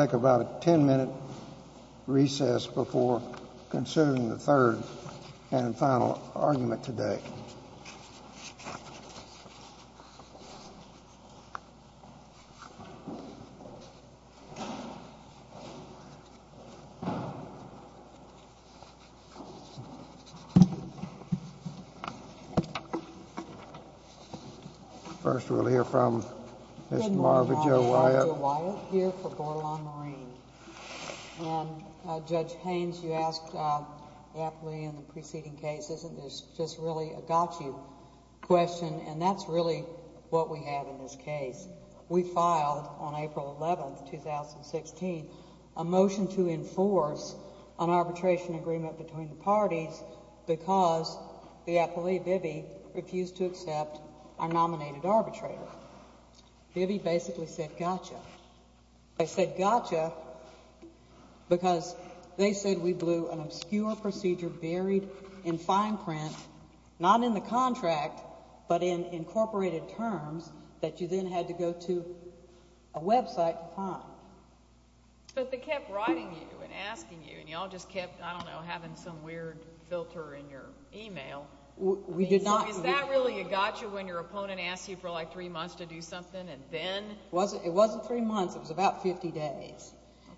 Take about a 10-minute recess before considering the third and final argument today. First we'll hear from Mr. Marvin J. Wyatt. We'll hear from Bordelon Marine. And Judge Haynes, you asked the appellee in the preceding case, isn't this just really a gotcha question? And that's really what we have in this case. We filed on April 11, 2016, a motion to enforce an arbitration agreement between the parties because the appellee, Bibby, refused to accept our nominated arbitrator. Bibby basically said, gotcha. They said gotcha because they said we blew an obscure procedure buried in fine print, not in the contract, but in incorporated terms that you then had to go to a website to find. But they kept writing you and asking you, and you all just kept, I don't know, having some weird filter in your e-mail. Is that really a gotcha when your opponent asks you for like three months to do something, and then? It wasn't three months. It was about 50 days.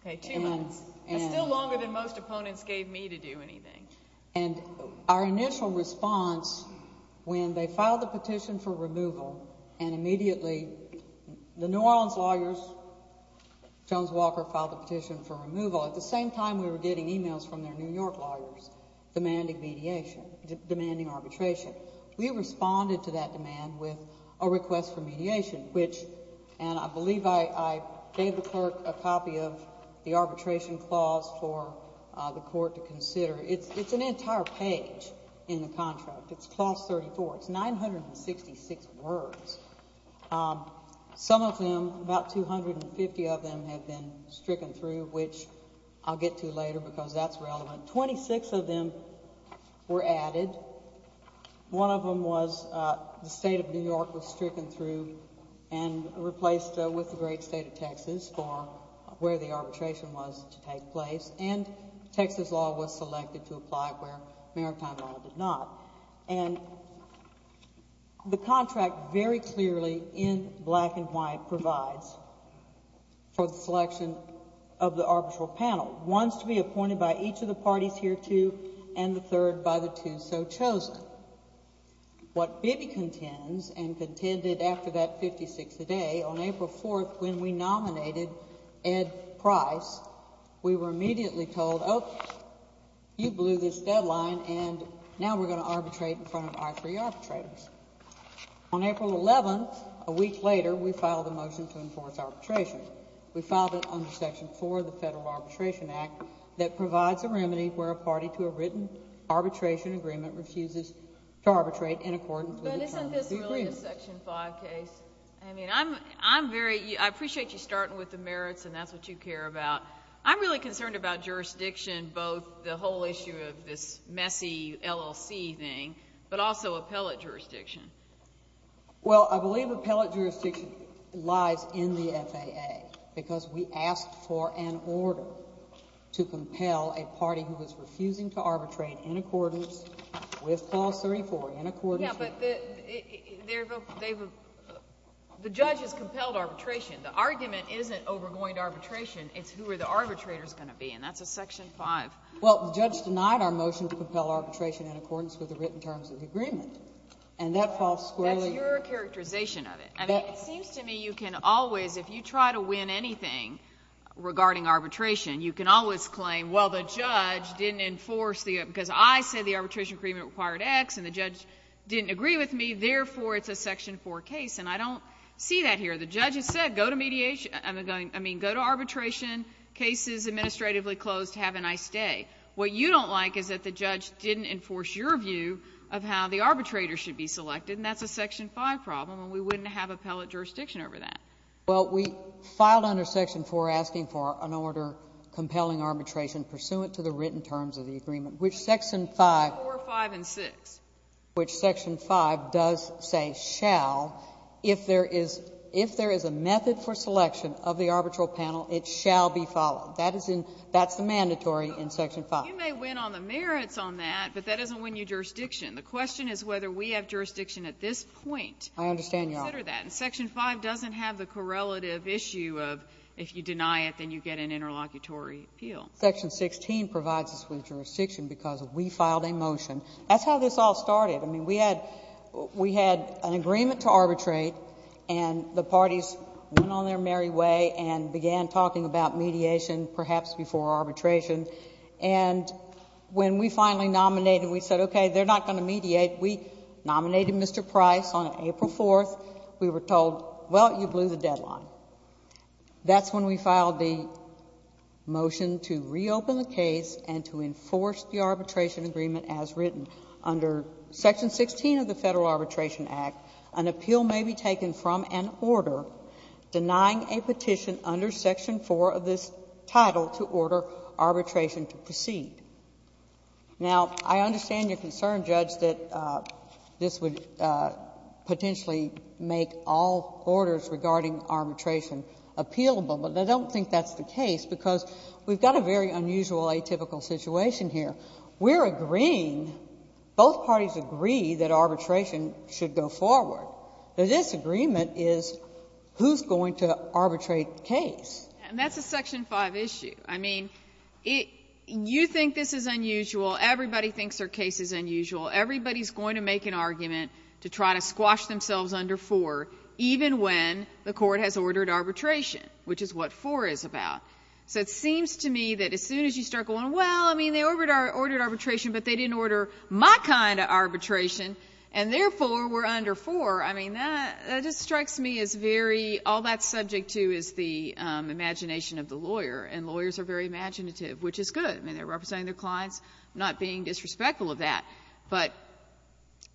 Okay, two months. That's still longer than most opponents gave me to do anything. And our initial response when they filed the petition for removal, and immediately the New Orleans lawyers, Jones-Walker filed the petition for removal, at the same time we were getting e-mails from their New York lawyers demanding mediation, demanding arbitration. We responded to that demand with a request for mediation, which, and I believe I gave the clerk a copy of the arbitration clause for the court to consider. It's an entire page in the contract. It's clause 34. It's 966 words. Some of them, about 250 of them, have been stricken through, which I'll get to later because that's relevant. Twenty-six of them were added. One of them was the state of New York was stricken through and replaced with the great state of Texas for where the arbitration was to take place, and Texas law was selected to apply where maritime law did not. And the contract very clearly in black and white provides for the selection of the arbitral panel. One is to be appointed by each of the parties hereto and the third by the two so chosen. What Bibby contends, and contended after that 56th day, on April 4th when we nominated Ed Price, we were immediately told, oh, you blew this deadline, and now we're going to arbitrate in front of our three arbitrators. On April 11th, a week later, we filed a motion to enforce arbitration. We filed it under Section 4 of the Federal Arbitration Act that provides a remedy where a party to a written arbitration agreement refuses to arbitrate in accordance with the terms of the agreement. But isn't this really a Section 5 case? I appreciate you starting with the merits, and that's what you care about. I'm really concerned about jurisdiction, both the whole issue of this messy LLC thing, but also appellate jurisdiction. Well, I believe appellate jurisdiction lies in the FAA, because we asked for an order to compel a party who was refusing to arbitrate in accordance with Clause 34, in accordance with the law. Yeah, but the judge has compelled arbitration. The argument isn't over going to arbitration. It's who are the arbitrators going to be, and that's a Section 5. Well, the judge denied our motion to compel arbitration in accordance with the written terms of the agreement, and that falls squarely— That's your characterization of it. I mean, it seems to me you can always, if you try to win anything regarding arbitration, you can always claim, well, the judge didn't enforce the—because I said the arbitration agreement required X, and the judge didn't agree with me, therefore, it's a Section 4 case, and I don't see that here. The judge has said, go to mediation—I mean, go to arbitration, cases administratively closed, have a nice day. What you don't like is that the judge didn't enforce your view of how the arbitrator should be selected, and that's a Section 5 problem, and we wouldn't have appellate jurisdiction over that. Well, we filed under Section 4 asking for an order compelling arbitration pursuant to the written terms of the agreement, which Section 5— 4, 5, and 6. Which Section 5 does say shall. If there is a method for selection of the arbitral panel, it shall be followed. That is in — that's the mandatory in Section 5. You may win on the merits on that, but that doesn't win you jurisdiction. The question is whether we have jurisdiction at this point. I understand, Your Honor. Consider that. And Section 5 doesn't have the correlative issue of, if you deny it, then you get an interlocutory appeal. Section 16 provides us with jurisdiction because we filed a motion. That's how this all started. I mean, we had — we had an agreement to arbitrate, and the parties went on their merry way and began talking about mediation, perhaps before arbitration. And when we finally nominated, we said, okay, they're not going to mediate. We nominated Mr. Price on April 4th. We were told, well, you blew the deadline. That's when we filed the motion to reopen the case and to enforce the arbitration agreement as written. Under Section 16 of the Federal Arbitration Act, an appeal may be taken from an order denying a petition under Section 4 of this title to order arbitration to proceed. Now, I understand your concern, Judge, that this would potentially make all orders regarding arbitration appealable. But I don't think that's the case, because we've got a very unusual atypical situation here. We're agreeing, both parties agree, that arbitration should go forward. The disagreement is who's going to arbitrate the case. And that's a Section 5 issue. I mean, you think this is unusual. Everybody thinks their case is unusual. Everybody is going to make an argument to try to squash themselves under 4, even when the Court has ordered arbitration, which is what 4 is about. So it seems to me that as soon as you start going, well, I mean, they ordered arbitration, but they didn't order my kind of arbitration, and therefore we're going under 4. I mean, that just strikes me as very, all that's subject to is the imagination of the lawyer. And lawyers are very imaginative, which is good. I mean, they're representing their clients, not being disrespectful of that. But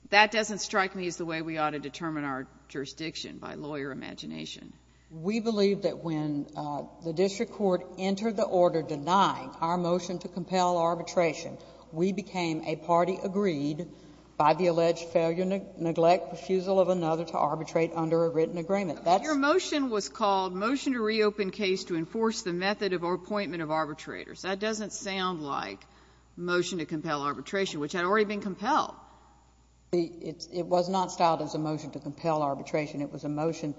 that doesn't strike me as the way we ought to determine our jurisdiction by lawyer imagination. We believe that when the district court entered the order denying our motion to reopen case to enforce the method of appointment of arbitrators. That doesn't sound like motion to compel arbitration, which had already been compelled. It was not styled as a motion to compel arbitration. It was a motion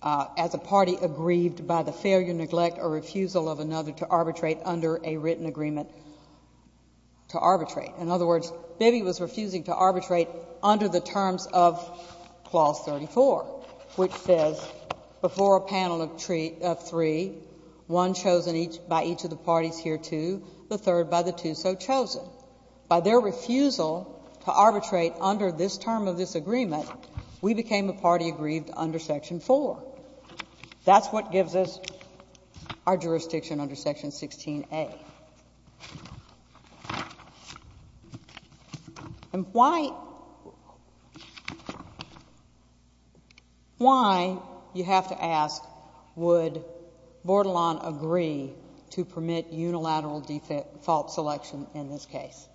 as a party aggrieved by the failure, neglect, or refusal of another to arbitrate under a written agreement to arbitrate. In other words, Bibby was refusing to arbitrate under the terms of Clause 34, which says, before a panel of three, one chosen by each of the parties hereto, the third by the two so chosen. By their refusal to arbitrate under this term of this agreement, we became a party aggrieved under Section 4. That's what gives us our jurisdiction under Section 16a. And why, why, you have to ask, would Bordelon agree to permit unilateral default selection in this case?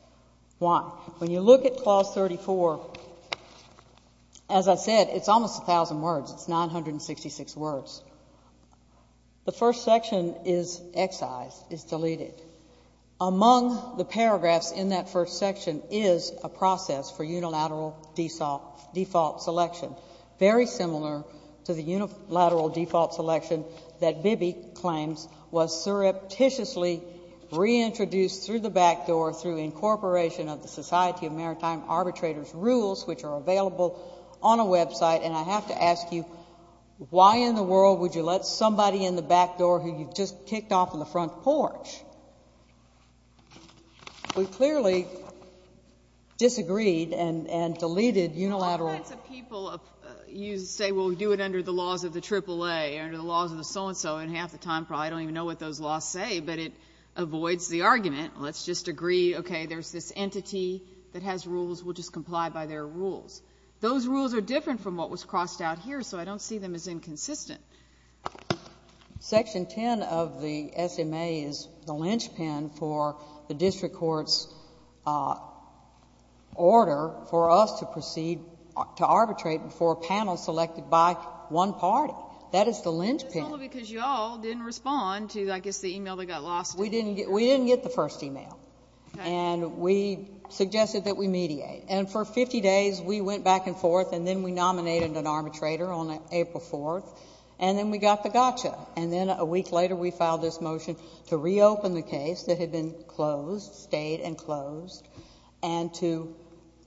Why? When you look at Clause 34, as I said, it's almost a thousand words. It's 966 words. The first section is excised, is deleted. Among the paragraphs in that first section is a process for unilateral default selection, very similar to the unilateral default selection that Bibby claims was surreptitiously reintroduced through the back door through incorporation of the Society of Maritime Arbitrators' rules, which are available on a website. And I have to ask you, why in the world would you let somebody in the back door who you've just kicked off of the front porch? We clearly disagreed and deleted unilateral default selection. You say, well, do it under the laws of the AAA or under the laws of the so-and-so, and half the time, probably don't even know what those laws say, but it avoids the argument. Let's just agree, okay, there's this entity that has rules. We'll just comply by their rules. Those rules are different from what was crossed out here, so I don't see them as inconsistent. Section 10 of the SMA is the linchpin for the district court's order for us to proceed to arbitrate before a panel selected by one party. That is the linchpin. That's only because you all didn't respond to, I guess, the e-mail that got lost. We didn't get the first e-mail. Okay. And we suggested that we mediate. And for 50 days, we went back and forth, and then we nominated an arbitrator on April 4th, and then we got the gotcha. And then a week later, we filed this motion to reopen the case that had been closed, stayed and closed, and to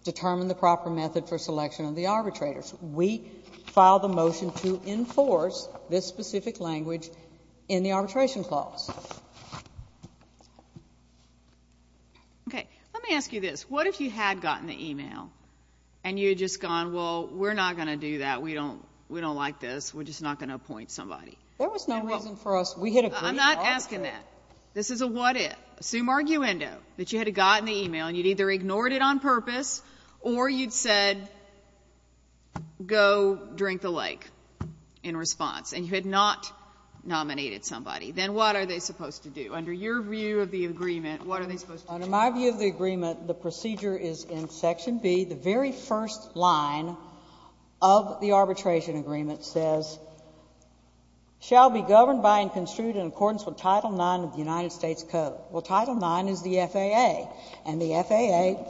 determine the proper method for selection of the arbitrators. We filed a motion to enforce this specific language in the arbitration clause. Okay. Let me ask you this. What if you had gotten the e-mail and you had just gone, well, we're not going to do that, we don't like this, we're just not going to appoint somebody? There was no reason for us. We had agreed to arbitrate. I'm not asking that. This is a what if. Assume arguendo, that you had gotten the e-mail and you'd either ignored it on purpose or you'd said go drink the lake in response, and you had not nominated somebody. Then what are they supposed to do? Under your view of the agreement, what are they supposed to do? Under my view of the agreement, the procedure is in section B. The very first line of the arbitration agreement says, shall be governed by and construed in accordance with Title IX of the United States Code. Well, Title IX is the FAA, and the FAA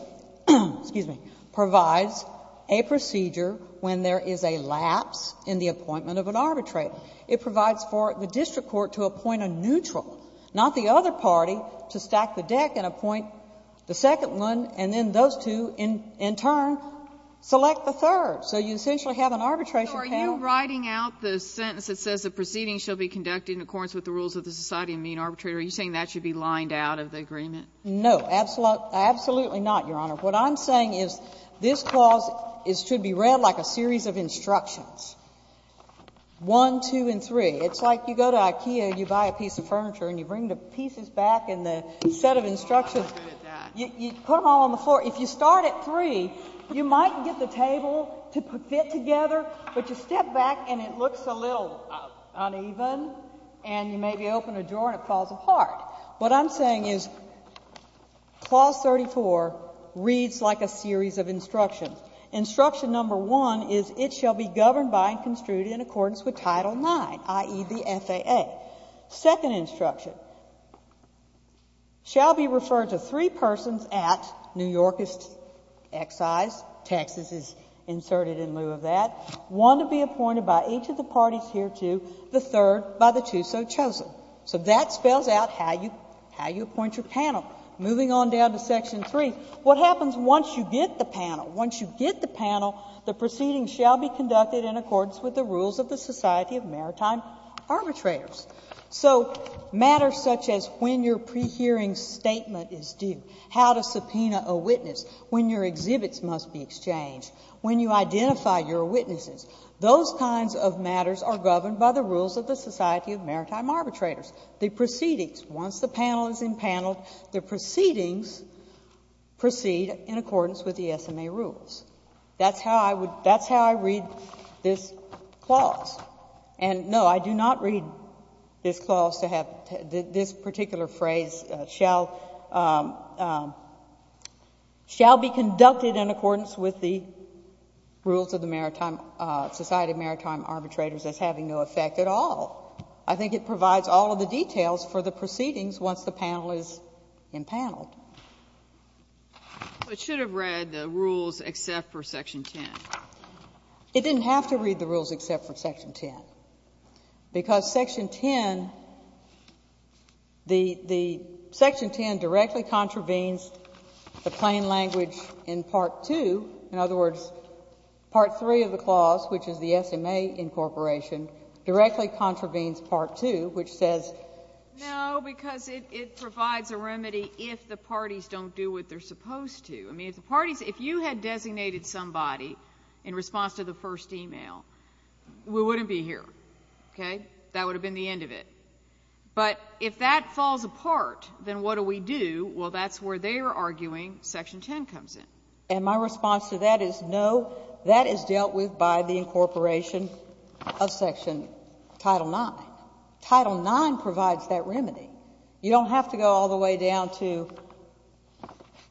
provides a procedure when there is a lapse in the appointment of an arbitrator. It provides for the district court to appoint a neutral, not the other party, to stack the deck and appoint the second one, and then those two in turn select the third. So you essentially have an arbitration panel. So are you writing out the sentence that says the proceedings shall be conducted in accordance with the rules of the Society of Mean Arbitrators? Are you saying that should be lined out of the agreement? No. Absolutely not, Your Honor. What I'm saying is this clause should be read like a series of instructions, one, two, and three. It's like you go to Ikea and you buy a piece of furniture and you bring the pieces back and the set of instructions, you put them all on the floor. If you start at three, you might get the table to fit together, but you step back and it looks a little uneven, and you maybe open a drawer and it falls apart. What I'm saying is clause 34 reads like a series of instructions. Instruction number one is it shall be governed by and construed in accordance with Title IX, i.e., the FAA. Second instruction, shall be referred to three persons at New York's excise. Texas is inserted in lieu of that. One to be appointed by each of the parties here to the third by the two so chosen. So that spells out how you appoint your panel. Moving on down to Section 3, what happens once you get the panel? Once you get the panel, the proceedings shall be conducted in accordance with the rules of the Society of Maritime Arbitrators. So matters such as when your pre-hearing statement is due, how to subpoena a witness, when your exhibits must be exchanged, when you identify your witnesses, those kinds of matters are governed by the rules of the Society of Maritime Arbitrators. The proceedings, once the panel is impaneled, the proceedings proceed in accordance with the SMA rules. That's how I would, that's how I read this clause. And no, I do not read this clause to have, this particular phrase shall, shall be conducted in accordance with the rules of the Maritime, Society of Maritime Arbitrators as having no effect at all. I think it provides all of the details for the proceedings once the panel is impaneled. It should have read the rules except for Section 10. It didn't have to read the rules except for Section 10, because Section 10, the Section 10 directly contravenes the plain language in Part 2. In other words, Part 3 of the clause, which is the SMA incorporation, directly contravenes Part 2, which says. No, because it provides a remedy if the parties don't do what they're supposed to. I mean, if the parties, if you had designated somebody in response to the first email, we wouldn't be here, okay? That would have been the end of it. But if that falls apart, then what do we do? Well, that's where they're arguing Section 10 comes in. And my response to that is no, that is dealt with by the incorporation of Section Title 9. Title 9 provides that remedy. You don't have to go all the way down to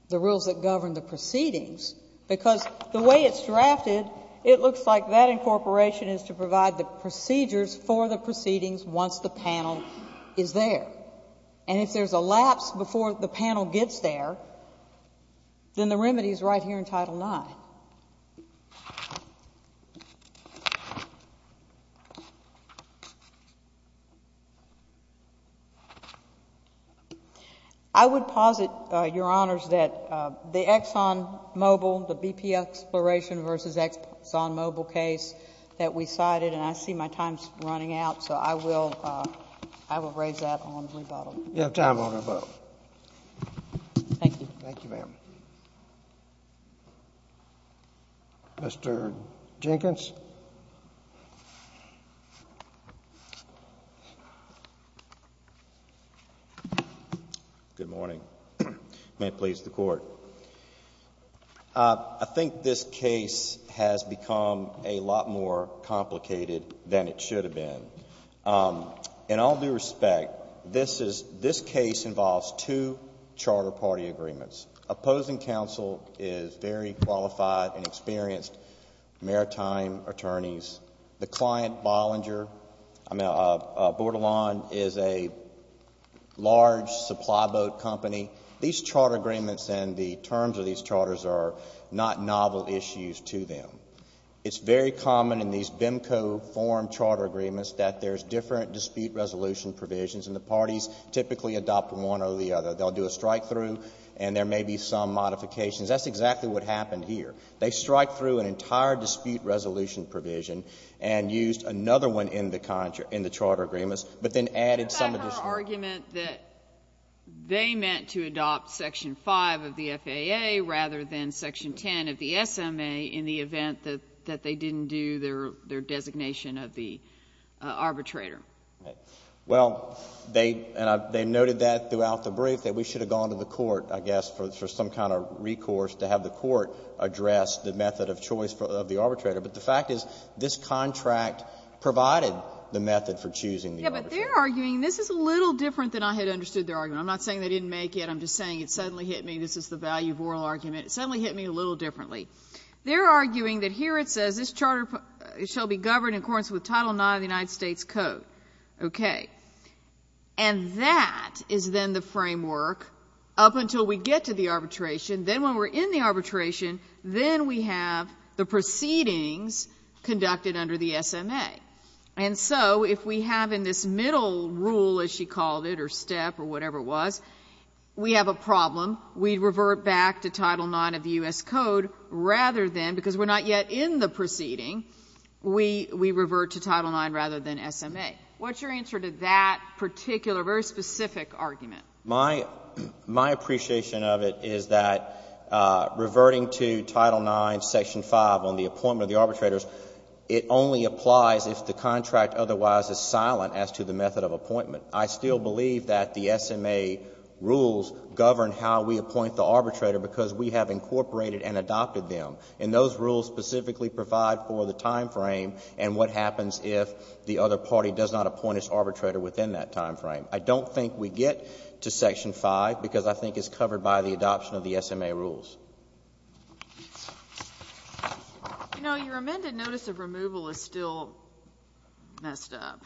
the rules that govern the proceedings, because the way it's drafted, it looks like that incorporation is to provide the procedures for the proceedings once the panel is there. And if there's a lapse before the panel gets there, then the remedy is right here in Title 9. I would posit, Your Honors, that the ExxonMobil, the BP Exploration v. ExxonMobil case that we cited, and I see my time's running out, so I will raise that on rebuttal. You have time on your vote. Thank you. Thank you, ma'am. Mr. Jenkins. Good morning. May it please the Court. I think this case has become a lot more complicated than it should have been. In all due respect, this case involves two charter party agreements. Opposing counsel is very qualified and experienced maritime attorneys. The client, Bordelon, is a large supply boat company. These charter agreements and the terms of these charters are not novel issues to them. It's very common in these VIMCO form charter agreements that there's different dispute resolution provisions, and the parties typically adopt one or the other. They'll do a strikethrough, and there may be some modifications. That's exactly what happened here. They strikethrough an entire dispute resolution provision and used another one in the charter agreements, but then added some of the strikethrough. What about her argument that they meant to adopt Section 5 of the FAA rather than Section 10 of the SMA in the event that they didn't do their designation of the arbitrator? Well, they noted that throughout the brief, that we should have gone to the court, I guess, for some kind of recourse to have the court address the method of choice of the arbitrator. But the fact is this contract provided the method for choosing the arbitrator. Yes, but they're arguing this is a little different than I had understood their argument. I'm not saying they didn't make it. I'm just saying it suddenly hit me. This is the value of oral argument. It suddenly hit me a little differently. They're arguing that here it says this charter shall be governed in accordance with Title IX of the United States Code. Okay. And that is then the framework up until we get to the arbitration. Then when we're in the arbitration, then we have the proceedings conducted under the SMA. And so if we have in this middle rule, as she called it, or step or whatever it was, we have a problem. We revert back to Title IX of the U.S. Code rather than, because we're not yet in the proceeding, we revert to Title IX rather than SMA. What's your answer to that particular, very specific argument? My appreciation of it is that reverting to Title IX, Section 5 on the appointment of the arbitrators, it only applies if the contract otherwise is silent as to the method of appointment. I still believe that the SMA rules govern how we appoint the arbitrator because we have incorporated and adopted them. And those rules specifically provide for the timeframe and what happens if the other party does not appoint its arbitrator within that timeframe. I don't think we get to Section 5 because I think it's covered by the adoption of the SMA rules. You know, your amended notice of removal is still messed up.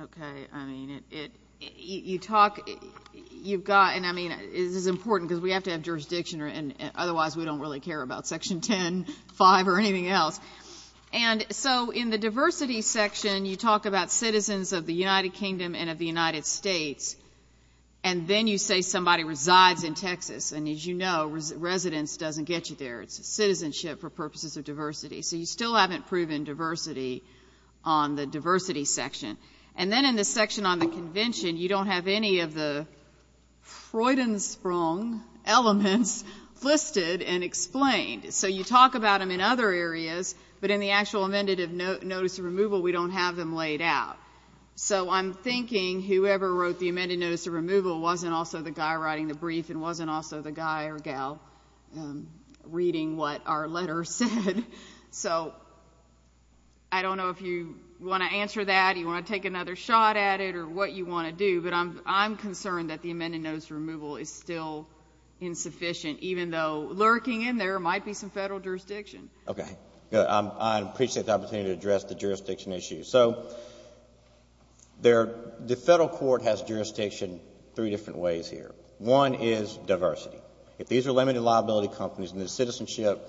Okay. I mean, you talk, you've got, and I mean, this is important because we have to have jurisdiction or otherwise we don't really care about Section 10, 5, or anything else. And so in the diversity section, you talk about citizens of the United Kingdom and of the United States, and then you say somebody resides in Texas. And as you know, residence doesn't get you there. It's citizenship for purposes of diversity. So you still haven't proven diversity on the diversity section. And then in the section on the convention, you don't have any of the Freudensprung elements listed and explained. So you talk about them in other areas, but in the actual amended notice of removal, we don't have them laid out. So I'm thinking whoever wrote the amended notice of removal wasn't also the guy writing the brief and wasn't also the guy or gal reading what our letter said. So I don't know if you want to answer that, you want to take another shot at it or what you want to do, but I'm concerned that the amended notice of removal is still insufficient, even though lurking in there might be some federal jurisdiction. Okay. I appreciate the opportunity to address the jurisdiction issue. So the federal court has jurisdiction three different ways here. One is diversity. If these are limited liability companies and the citizenship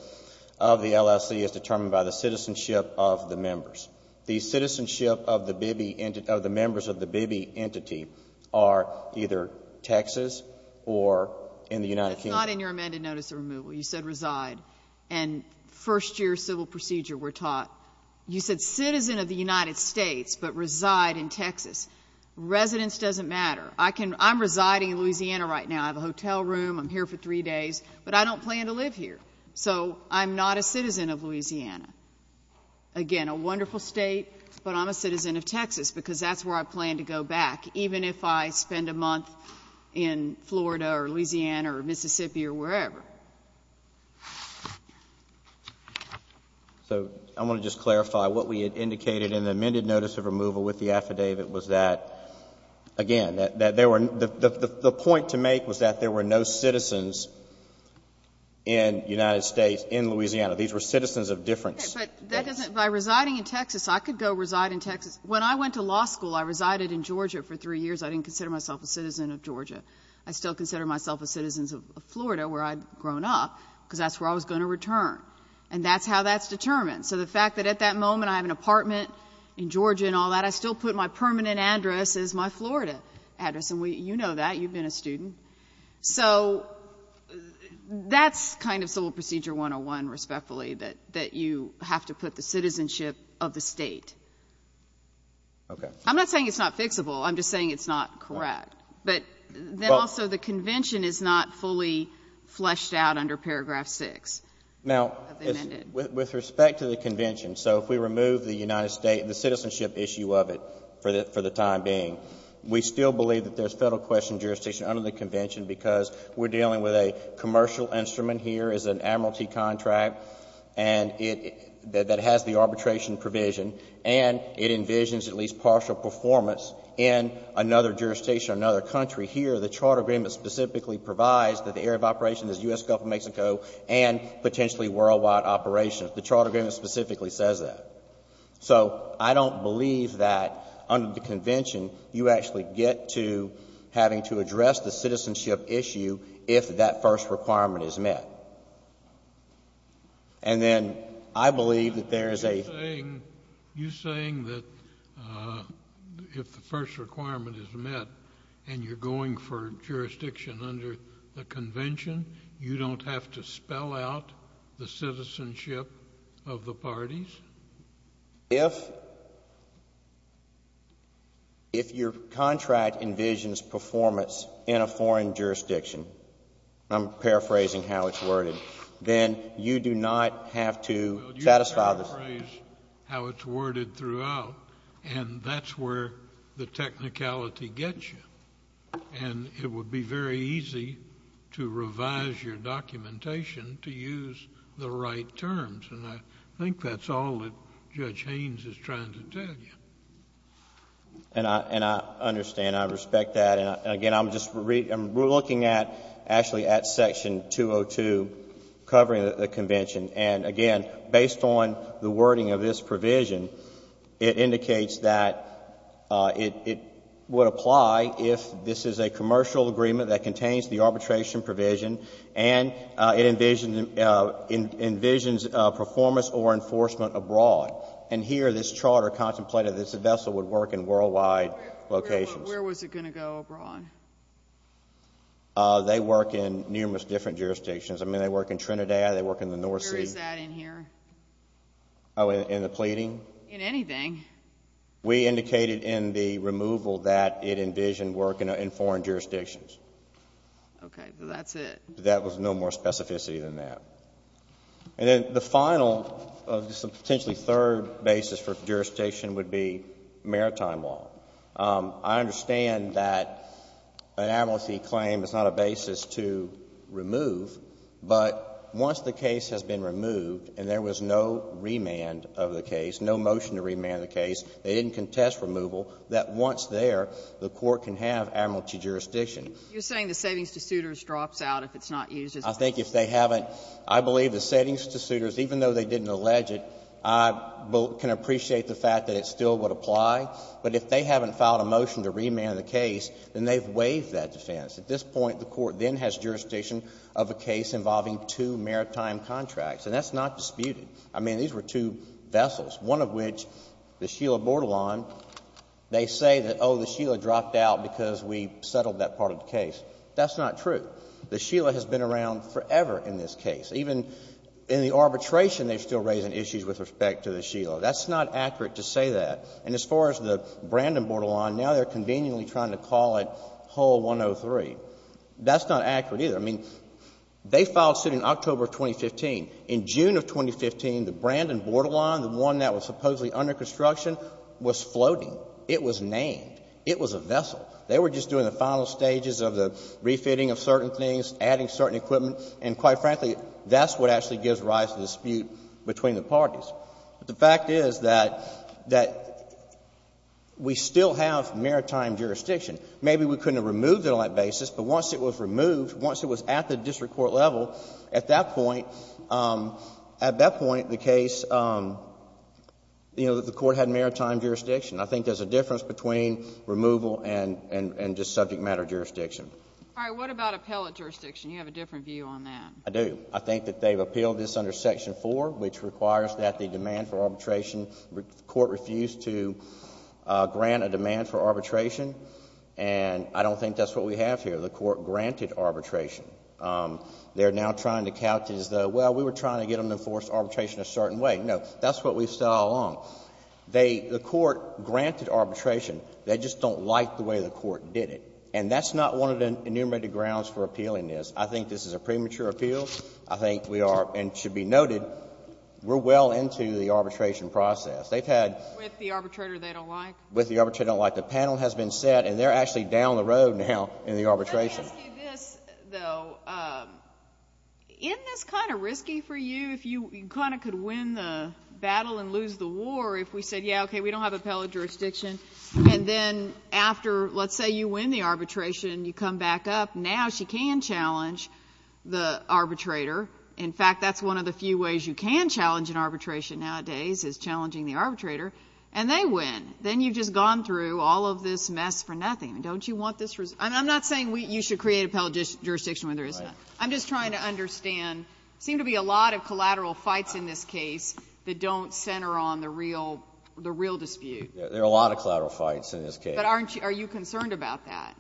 of the LSC is determined by the citizenship of the members. The citizenship of the members of the Bibi entity are either Texas or in the United Kingdom. It's not in your amended notice of removal. You said reside. And first year civil procedure we're taught. You said citizen of the United States but reside in Texas. Residence doesn't matter. I'm residing in Louisiana right now. I have a hotel room. I'm here for three days. But I don't plan to live here. So I'm not a citizen of Louisiana. Again, a wonderful state, but I'm a citizen of Texas because that's where I plan to go back, even if I spend a month in Florida or Louisiana or Mississippi or wherever. So I want to just clarify what we had indicated in the amended notice of removal with the affidavit was that, again, that there were the point to make was that there were no citizens in the United States in Louisiana. These were citizens of different states. Okay. But that doesn't by residing in Texas, I could go reside in Texas. When I went to law school, I resided in Georgia for three years. I didn't consider myself a citizen of Georgia. I still consider myself a citizen of Florida where I'd grown up because that's where I was going to return. And that's how that's determined. So the fact that at that moment I have an apartment in Georgia and all that, I still put my permanent address as my Florida address. And you know that. You've been a student. So that's kind of Civil Procedure 101, respectfully, that you have to put the citizenship of the state. Okay. I'm not saying it's not fixable. I'm just saying it's not correct. But then also the convention is not fully fleshed out under Paragraph 6. Now, with respect to the convention, so if we remove the United States, the citizenship issue of it for the time being, we still believe that there's federal question jurisdiction under the convention because we're dealing with a commercial instrument here as an admiralty contract and that has the arbitration provision and it envisions at least partial performance in another jurisdiction or another country. Here the Charter Agreement specifically provides that the area of operation is potentially worldwide operation. The Charter Agreement specifically says that. So I don't believe that under the convention you actually get to having to address the citizenship issue if that first requirement is met. And then I believe that there is a You're saying that if the first requirement is met and you're going for jurisdiction under the convention, you don't have to spell out the citizenship of the parties? If your contract envisions performance in a foreign jurisdiction, I'm paraphrasing how it's worded, then you do not have to satisfy the Well, you paraphrase how it's worded throughout and that's where the technicality And it would be very easy to revise your documentation to use the right terms. And I think that's all that Judge Haynes is trying to tell you. And I understand. I respect that. And, again, I'm just looking at actually at Section 202 covering the convention. And, again, based on the wording of this provision, it indicates that it would apply if this is a commercial agreement that contains the arbitration provision and it envisions performance or enforcement abroad. And here this Charter contemplated that the vessel would work in worldwide locations. Where was it going to go abroad? They work in numerous different jurisdictions. I mean, they work in Trinidad. They work in the North Sea. Where is that in here? Oh, in the pleading? In anything. We indicated in the removal that it envisioned work in foreign jurisdictions. Okay, so that's it. That was no more specificity than that. And then the final, potentially third basis for jurisdiction would be maritime law. I understand that an amnesty claim is not a basis to remove, but once the case has been removed and there was no remand of the case, no motion to remand the case, they didn't contest removal, that once there, the Court can have amnesty jurisdiction. You're saying the savings to suitors drops out if it's not used as a basis? I think if they haven't, I believe the savings to suitors, even though they didn't I can appreciate the fact that it still would apply, but if they haven't filed a motion to remand the case, then they've waived that defense. At this point, the Court then has jurisdiction of a case involving two maritime contracts, and that's not disputed. I mean, these were two vessels, one of which, the Sheila Bordelon, they say that, oh, the Sheila dropped out because we settled that part of the case. That's not true. The Sheila has been around forever in this case. Even in the arbitration, they're still raising issues with respect to the Sheila. That's not accurate to say that. And as far as the Brandon Bordelon, now they're conveniently trying to call it hull 103. That's not accurate either. I mean, they filed suit in October of 2015. In June of 2015, the Brandon Bordelon, the one that was supposedly under construction, was floating. It was named. It was a vessel. They were just doing the final stages of the refitting of certain things, adding certain equipment, and quite frankly, that's what actually gives rise to dispute between the parties. But the fact is that we still have maritime jurisdiction. Maybe we couldn't have removed it on that basis, but once it was removed, once it was at the district court level, at that point, at that point, the case, you know, the Court had maritime jurisdiction. I think there's a difference between removal and just subject matter jurisdiction. All right. What about appellate jurisdiction? You have a different view on that. I do. I think that they've appealed this under Section 4, which requires that the demand for arbitration, the Court refused to grant a demand for arbitration, and I don't think that's what we have here. The Court granted arbitration. They're now trying to couch it as though, well, we were trying to get them to enforce arbitration a certain way. No. That's what we saw along. They, the Court granted arbitration. They just don't like the way the Court did it. And that's not one of the enumerated grounds for appealing this. I think this is a premature appeal. I think we are, and it should be noted, we're well into the arbitration process. They've had. With the arbitrator they don't like? With the arbitrator they don't like. The panel has been set, and they're actually down the road now in the arbitration. Let me ask you this, though. Isn't this kind of risky for you if you kind of could win the battle and lose the war if we said, yeah, okay, we don't have appellate jurisdiction, and then after, let's say you win the arbitration and you come back up, now she can challenge the arbitrator. In fact, that's one of the few ways you can challenge an arbitration nowadays is challenging the arbitrator, and they win. Then you've just gone through all of this mess for nothing. Don't you want this? And I'm not saying you should create appellate jurisdiction when there is none. I'm just trying to understand. There seem to be a lot of collateral fights in this case that don't center on the real dispute. There are a lot of collateral fights in this case. But are you concerned about that?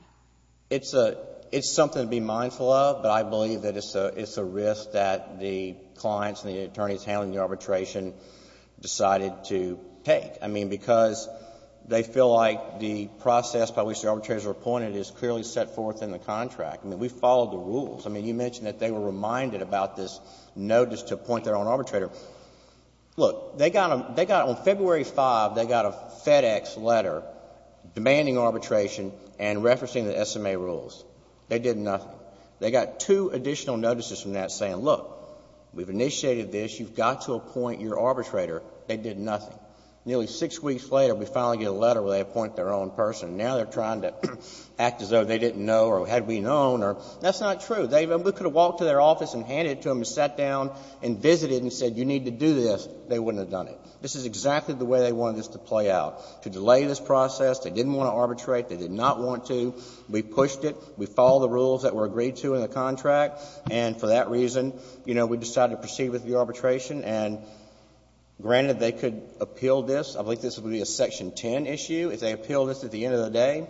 It's something to be mindful of, but I believe that it's a risk that the clients and the attorneys handling the arbitration decided to take. I mean, because they feel like the process by which the arbitrators are appointed is clearly set forth in the contract. I mean, we followed the rules. I mean, you mentioned that they were reminded about this notice to appoint their own arbitrator. Look, they got on February 5, they got a FedEx letter demanding arbitration and referencing the SMA rules. They did nothing. They got two additional notices from that saying, look, we've initiated this. You've got to appoint your arbitrator. They did nothing. Nearly six weeks later, we finally get a letter where they appoint their own person. Now they're trying to act as though they didn't know or had we known. That's not true. We could have walked to their office and handed it to them and sat down and visited and said, you need to do this. They wouldn't have done it. This is exactly the way they wanted this to play out, to delay this process. They didn't want to arbitrate. They did not want to. We pushed it. We followed the rules that were agreed to in the contract, and for that reason, you know, we decided to proceed with the arbitration. And granted, they could appeal this. I believe this would be a Section 10 issue. If they appeal this at the end of the day,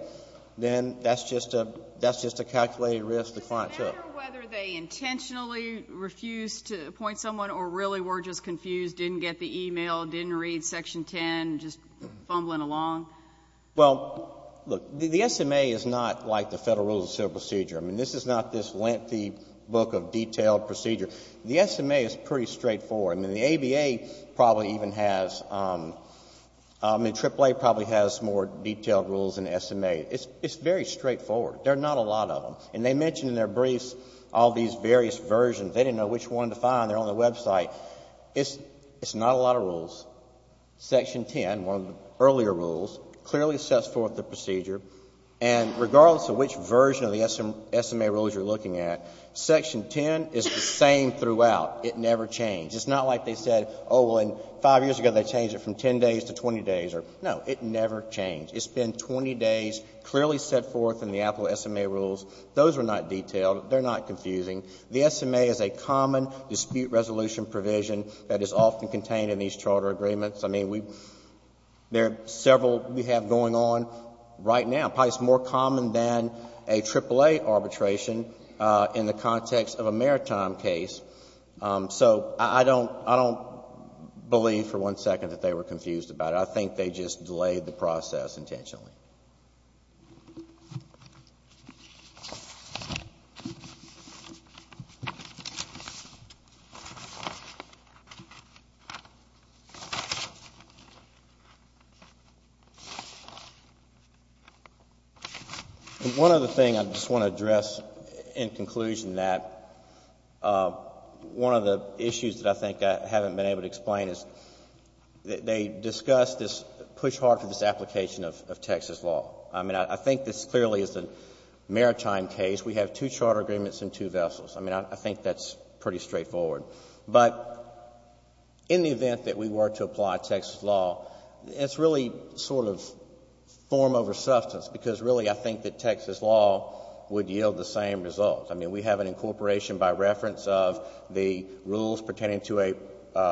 then that's just a calculated risk the client took. I wonder whether they intentionally refused to appoint someone or really were just confused, didn't get the e-mail, didn't read Section 10, just fumbling along. Well, look, the SMA is not like the Federal Rules of Civil Procedure. I mean, this is not this lengthy book of detailed procedure. The SMA is pretty straightforward. I mean, the ABA probably even has, I mean, AAA probably has more detailed rules than the SMA. It's very straightforward. There are not a lot of them. And they mention in their briefs all these various versions. They didn't know which one to find. They're on the website. It's not a lot of rules. Section 10, one of the earlier rules, clearly sets forth the procedure. And regardless of which version of the SMA rules you're looking at, Section 10 is the same throughout. It never changed. It's not like they said, oh, well, and five years ago they changed it from 10 days to 20 days. No, it never changed. It's been 20 days, clearly set forth in the Apple SMA rules. Those are not detailed. They're not confusing. The SMA is a common dispute resolution provision that is often contained in these charter agreements. I mean, there are several we have going on right now. Probably it's more common than a AAA arbitration in the context of a maritime case. So I don't believe for one second that they were confused about it. I think they just delayed the process intentionally. One other thing I just want to address in conclusion that one of the issues that I think I haven't been able to explain is they discussed this push hard for this application of Texas law. I mean, I think this clearly is a maritime case. We have two charter agreements and two vessels. I mean, I think that's pretty straightforward. But in the event that we were to apply Texas law, it's really sort of form over substance because really I think that Texas law would yield the same result. I mean, we have an incorporation by reference of the rules pertaining to a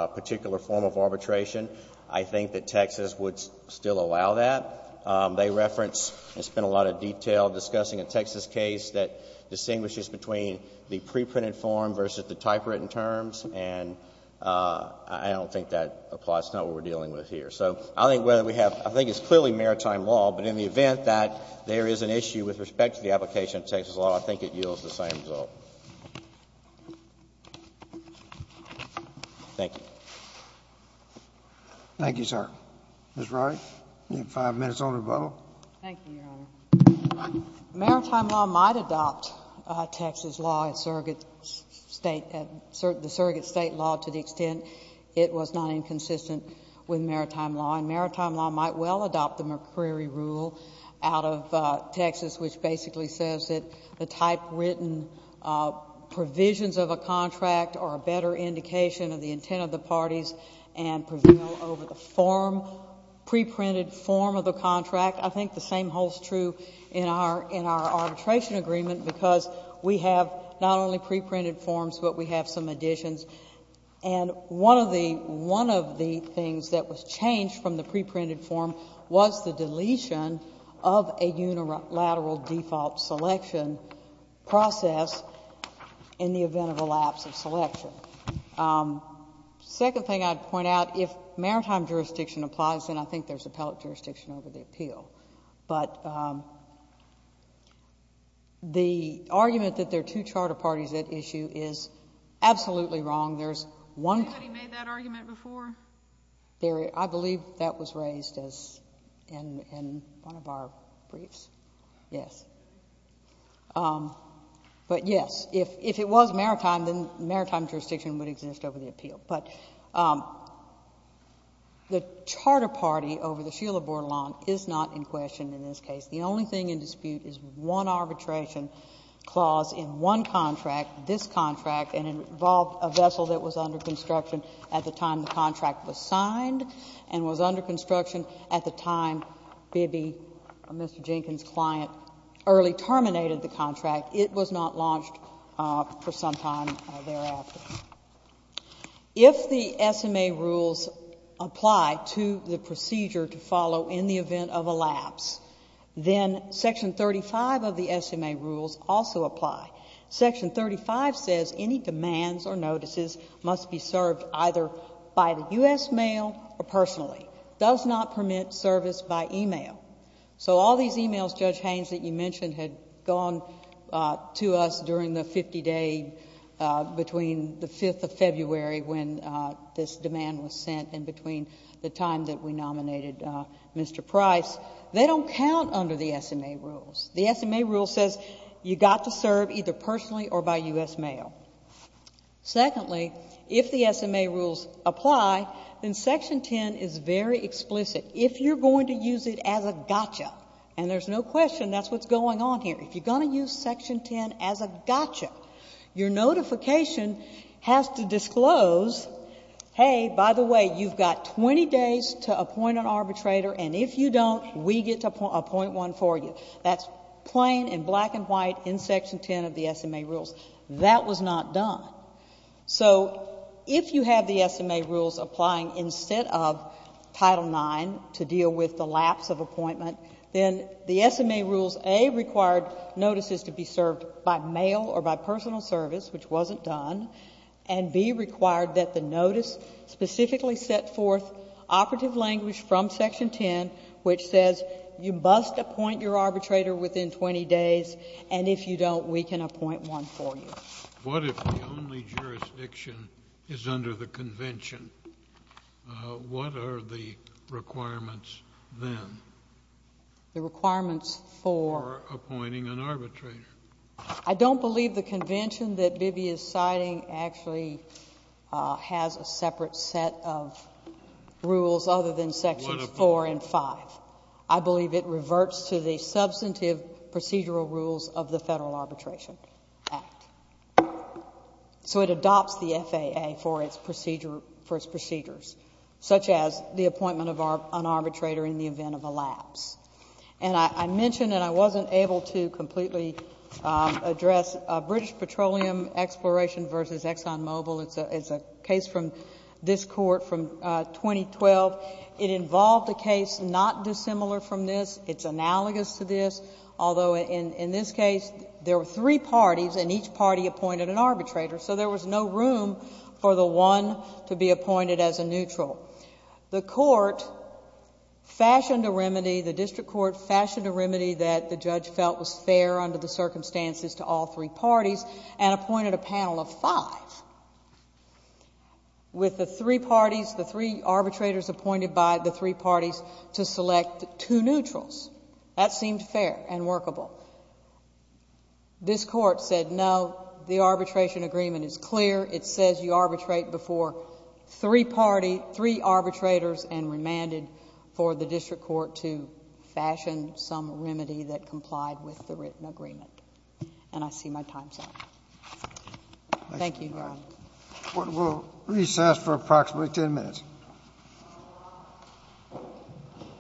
particular form of arbitration. I think that Texas would still allow that. They reference and spend a lot of detail discussing a Texas case that distinguishes between the preprinted form versus the typewritten terms. And I don't think that applies to what we're dealing with here. So I think whether we have — I think it's clearly maritime law. But in the event that there is an issue with respect to the application of Texas law, I think it yields the same result. JUSTICE SCALIA. Thank you, sir. Ms. Roddy, you have five minutes on the rebuttal. MS. RODDY. Thank you, Your Honor. Maritime law might adopt Texas law, the surrogate state law, to the extent it was not inconsistent with maritime law. And maritime law might well adopt the McCreary rule out of Texas, which basically says that the typewritten provisions of a contract are a better indication of the intent of the parties and prevail over the form, preprinted form of the contract. I think the same holds true in our arbitration agreement, because we have not only preprinted forms, but we have some additions. And one of the things that was changed from the preprinted form was the deletion of a unilateral default selection process in the event of a lapse of selection. The second thing I would point out, if maritime jurisdiction applies, then I think there is appellate jurisdiction over the appeal. But the argument that there are two charter parties at issue is absolutely wrong. There is one... JUSTICE SOTOMAYOR. Has anybody made that argument before? MS. Yes. But, yes, if it was maritime, then maritime jurisdiction would exist over the appeal. But the charter party over the Sheila Borlawn is not in question in this case. The only thing in dispute is one arbitration clause in one contract, this contract, and it involved a vessel that was under construction at the time the contract was signed and was under construction at the time Bibi, Mr. Jenkins' client, early terminated the contract. It was not launched for some time thereafter. If the SMA rules apply to the procedure to follow in the event of a lapse, then Section 35 of the SMA rules also apply. Section 35 says any demands or notices must be served either by the U.S. mail or personally, does not permit service by e-mail. So all these e-mails, Judge Haynes, that you mentioned had gone to us during the 50-day between the 5th of February when this demand was sent and between the time that we nominated Mr. Price. They don't count under the SMA rules. The SMA rule says you got to serve either personally or by U.S. mail. Secondly, if the SMA rules apply, then Section 10 is very explicit. If you're going to use it as a gotcha, and there's no question that's what's going on here, if you're going to use Section 10 as a gotcha, your notification has to disclose, hey, by the way, you've got 20 days to appoint an arbitrator, and if you don't, we get to appoint one for you. That's plain and black and white in Section 10 of the SMA rules. That was not done. So if you have the SMA rules applying instead of Title IX to deal with the lapse of appointment, then the SMA rules, A, required notices to be served by mail or by personal service, which wasn't done, and B, required that the notice specifically set forth operative language from Section 10, which says you must appoint your arbitrator within 20 days, and if you don't, we can appoint one for you. What if the only jurisdiction is under the convention? What are the requirements then? The requirements for? For appointing an arbitrator. I don't believe the convention that Bibi is citing actually has a separate set of rules other than Sections 4 and 5. I believe it reverts to the substantive procedural rules of the Federal Arbitration Act. So it adopts the FAA for its procedures, such as the appointment of an arbitrator in the event of a lapse. And I mentioned, and I wasn't able to completely address, British Petroleum Exploration v. Exxon Mobil. It's a case from this Court from 2012. It involved a case not dissimilar from this. It's analogous to this, although in this case, there were three parties and each party appointed an arbitrator, so there was no room for the one to be appointed as a neutral. The Court fashioned a remedy, the District Court fashioned a remedy that the judge felt was fair under the circumstances to all three parties and appointed a panel of five with the three parties, the three arbitrators appointed by the three parties to select two neutrals. That seemed fair and workable. This Court said, no, the arbitration agreement is clear. It says you arbitrate before three parties, three arbitrators, and remanded for the District Court to fashion some remedy that complied with the written agreement. And I see my time's up. Thank you, Your Honor. We'll recess for approximately 10 minutes.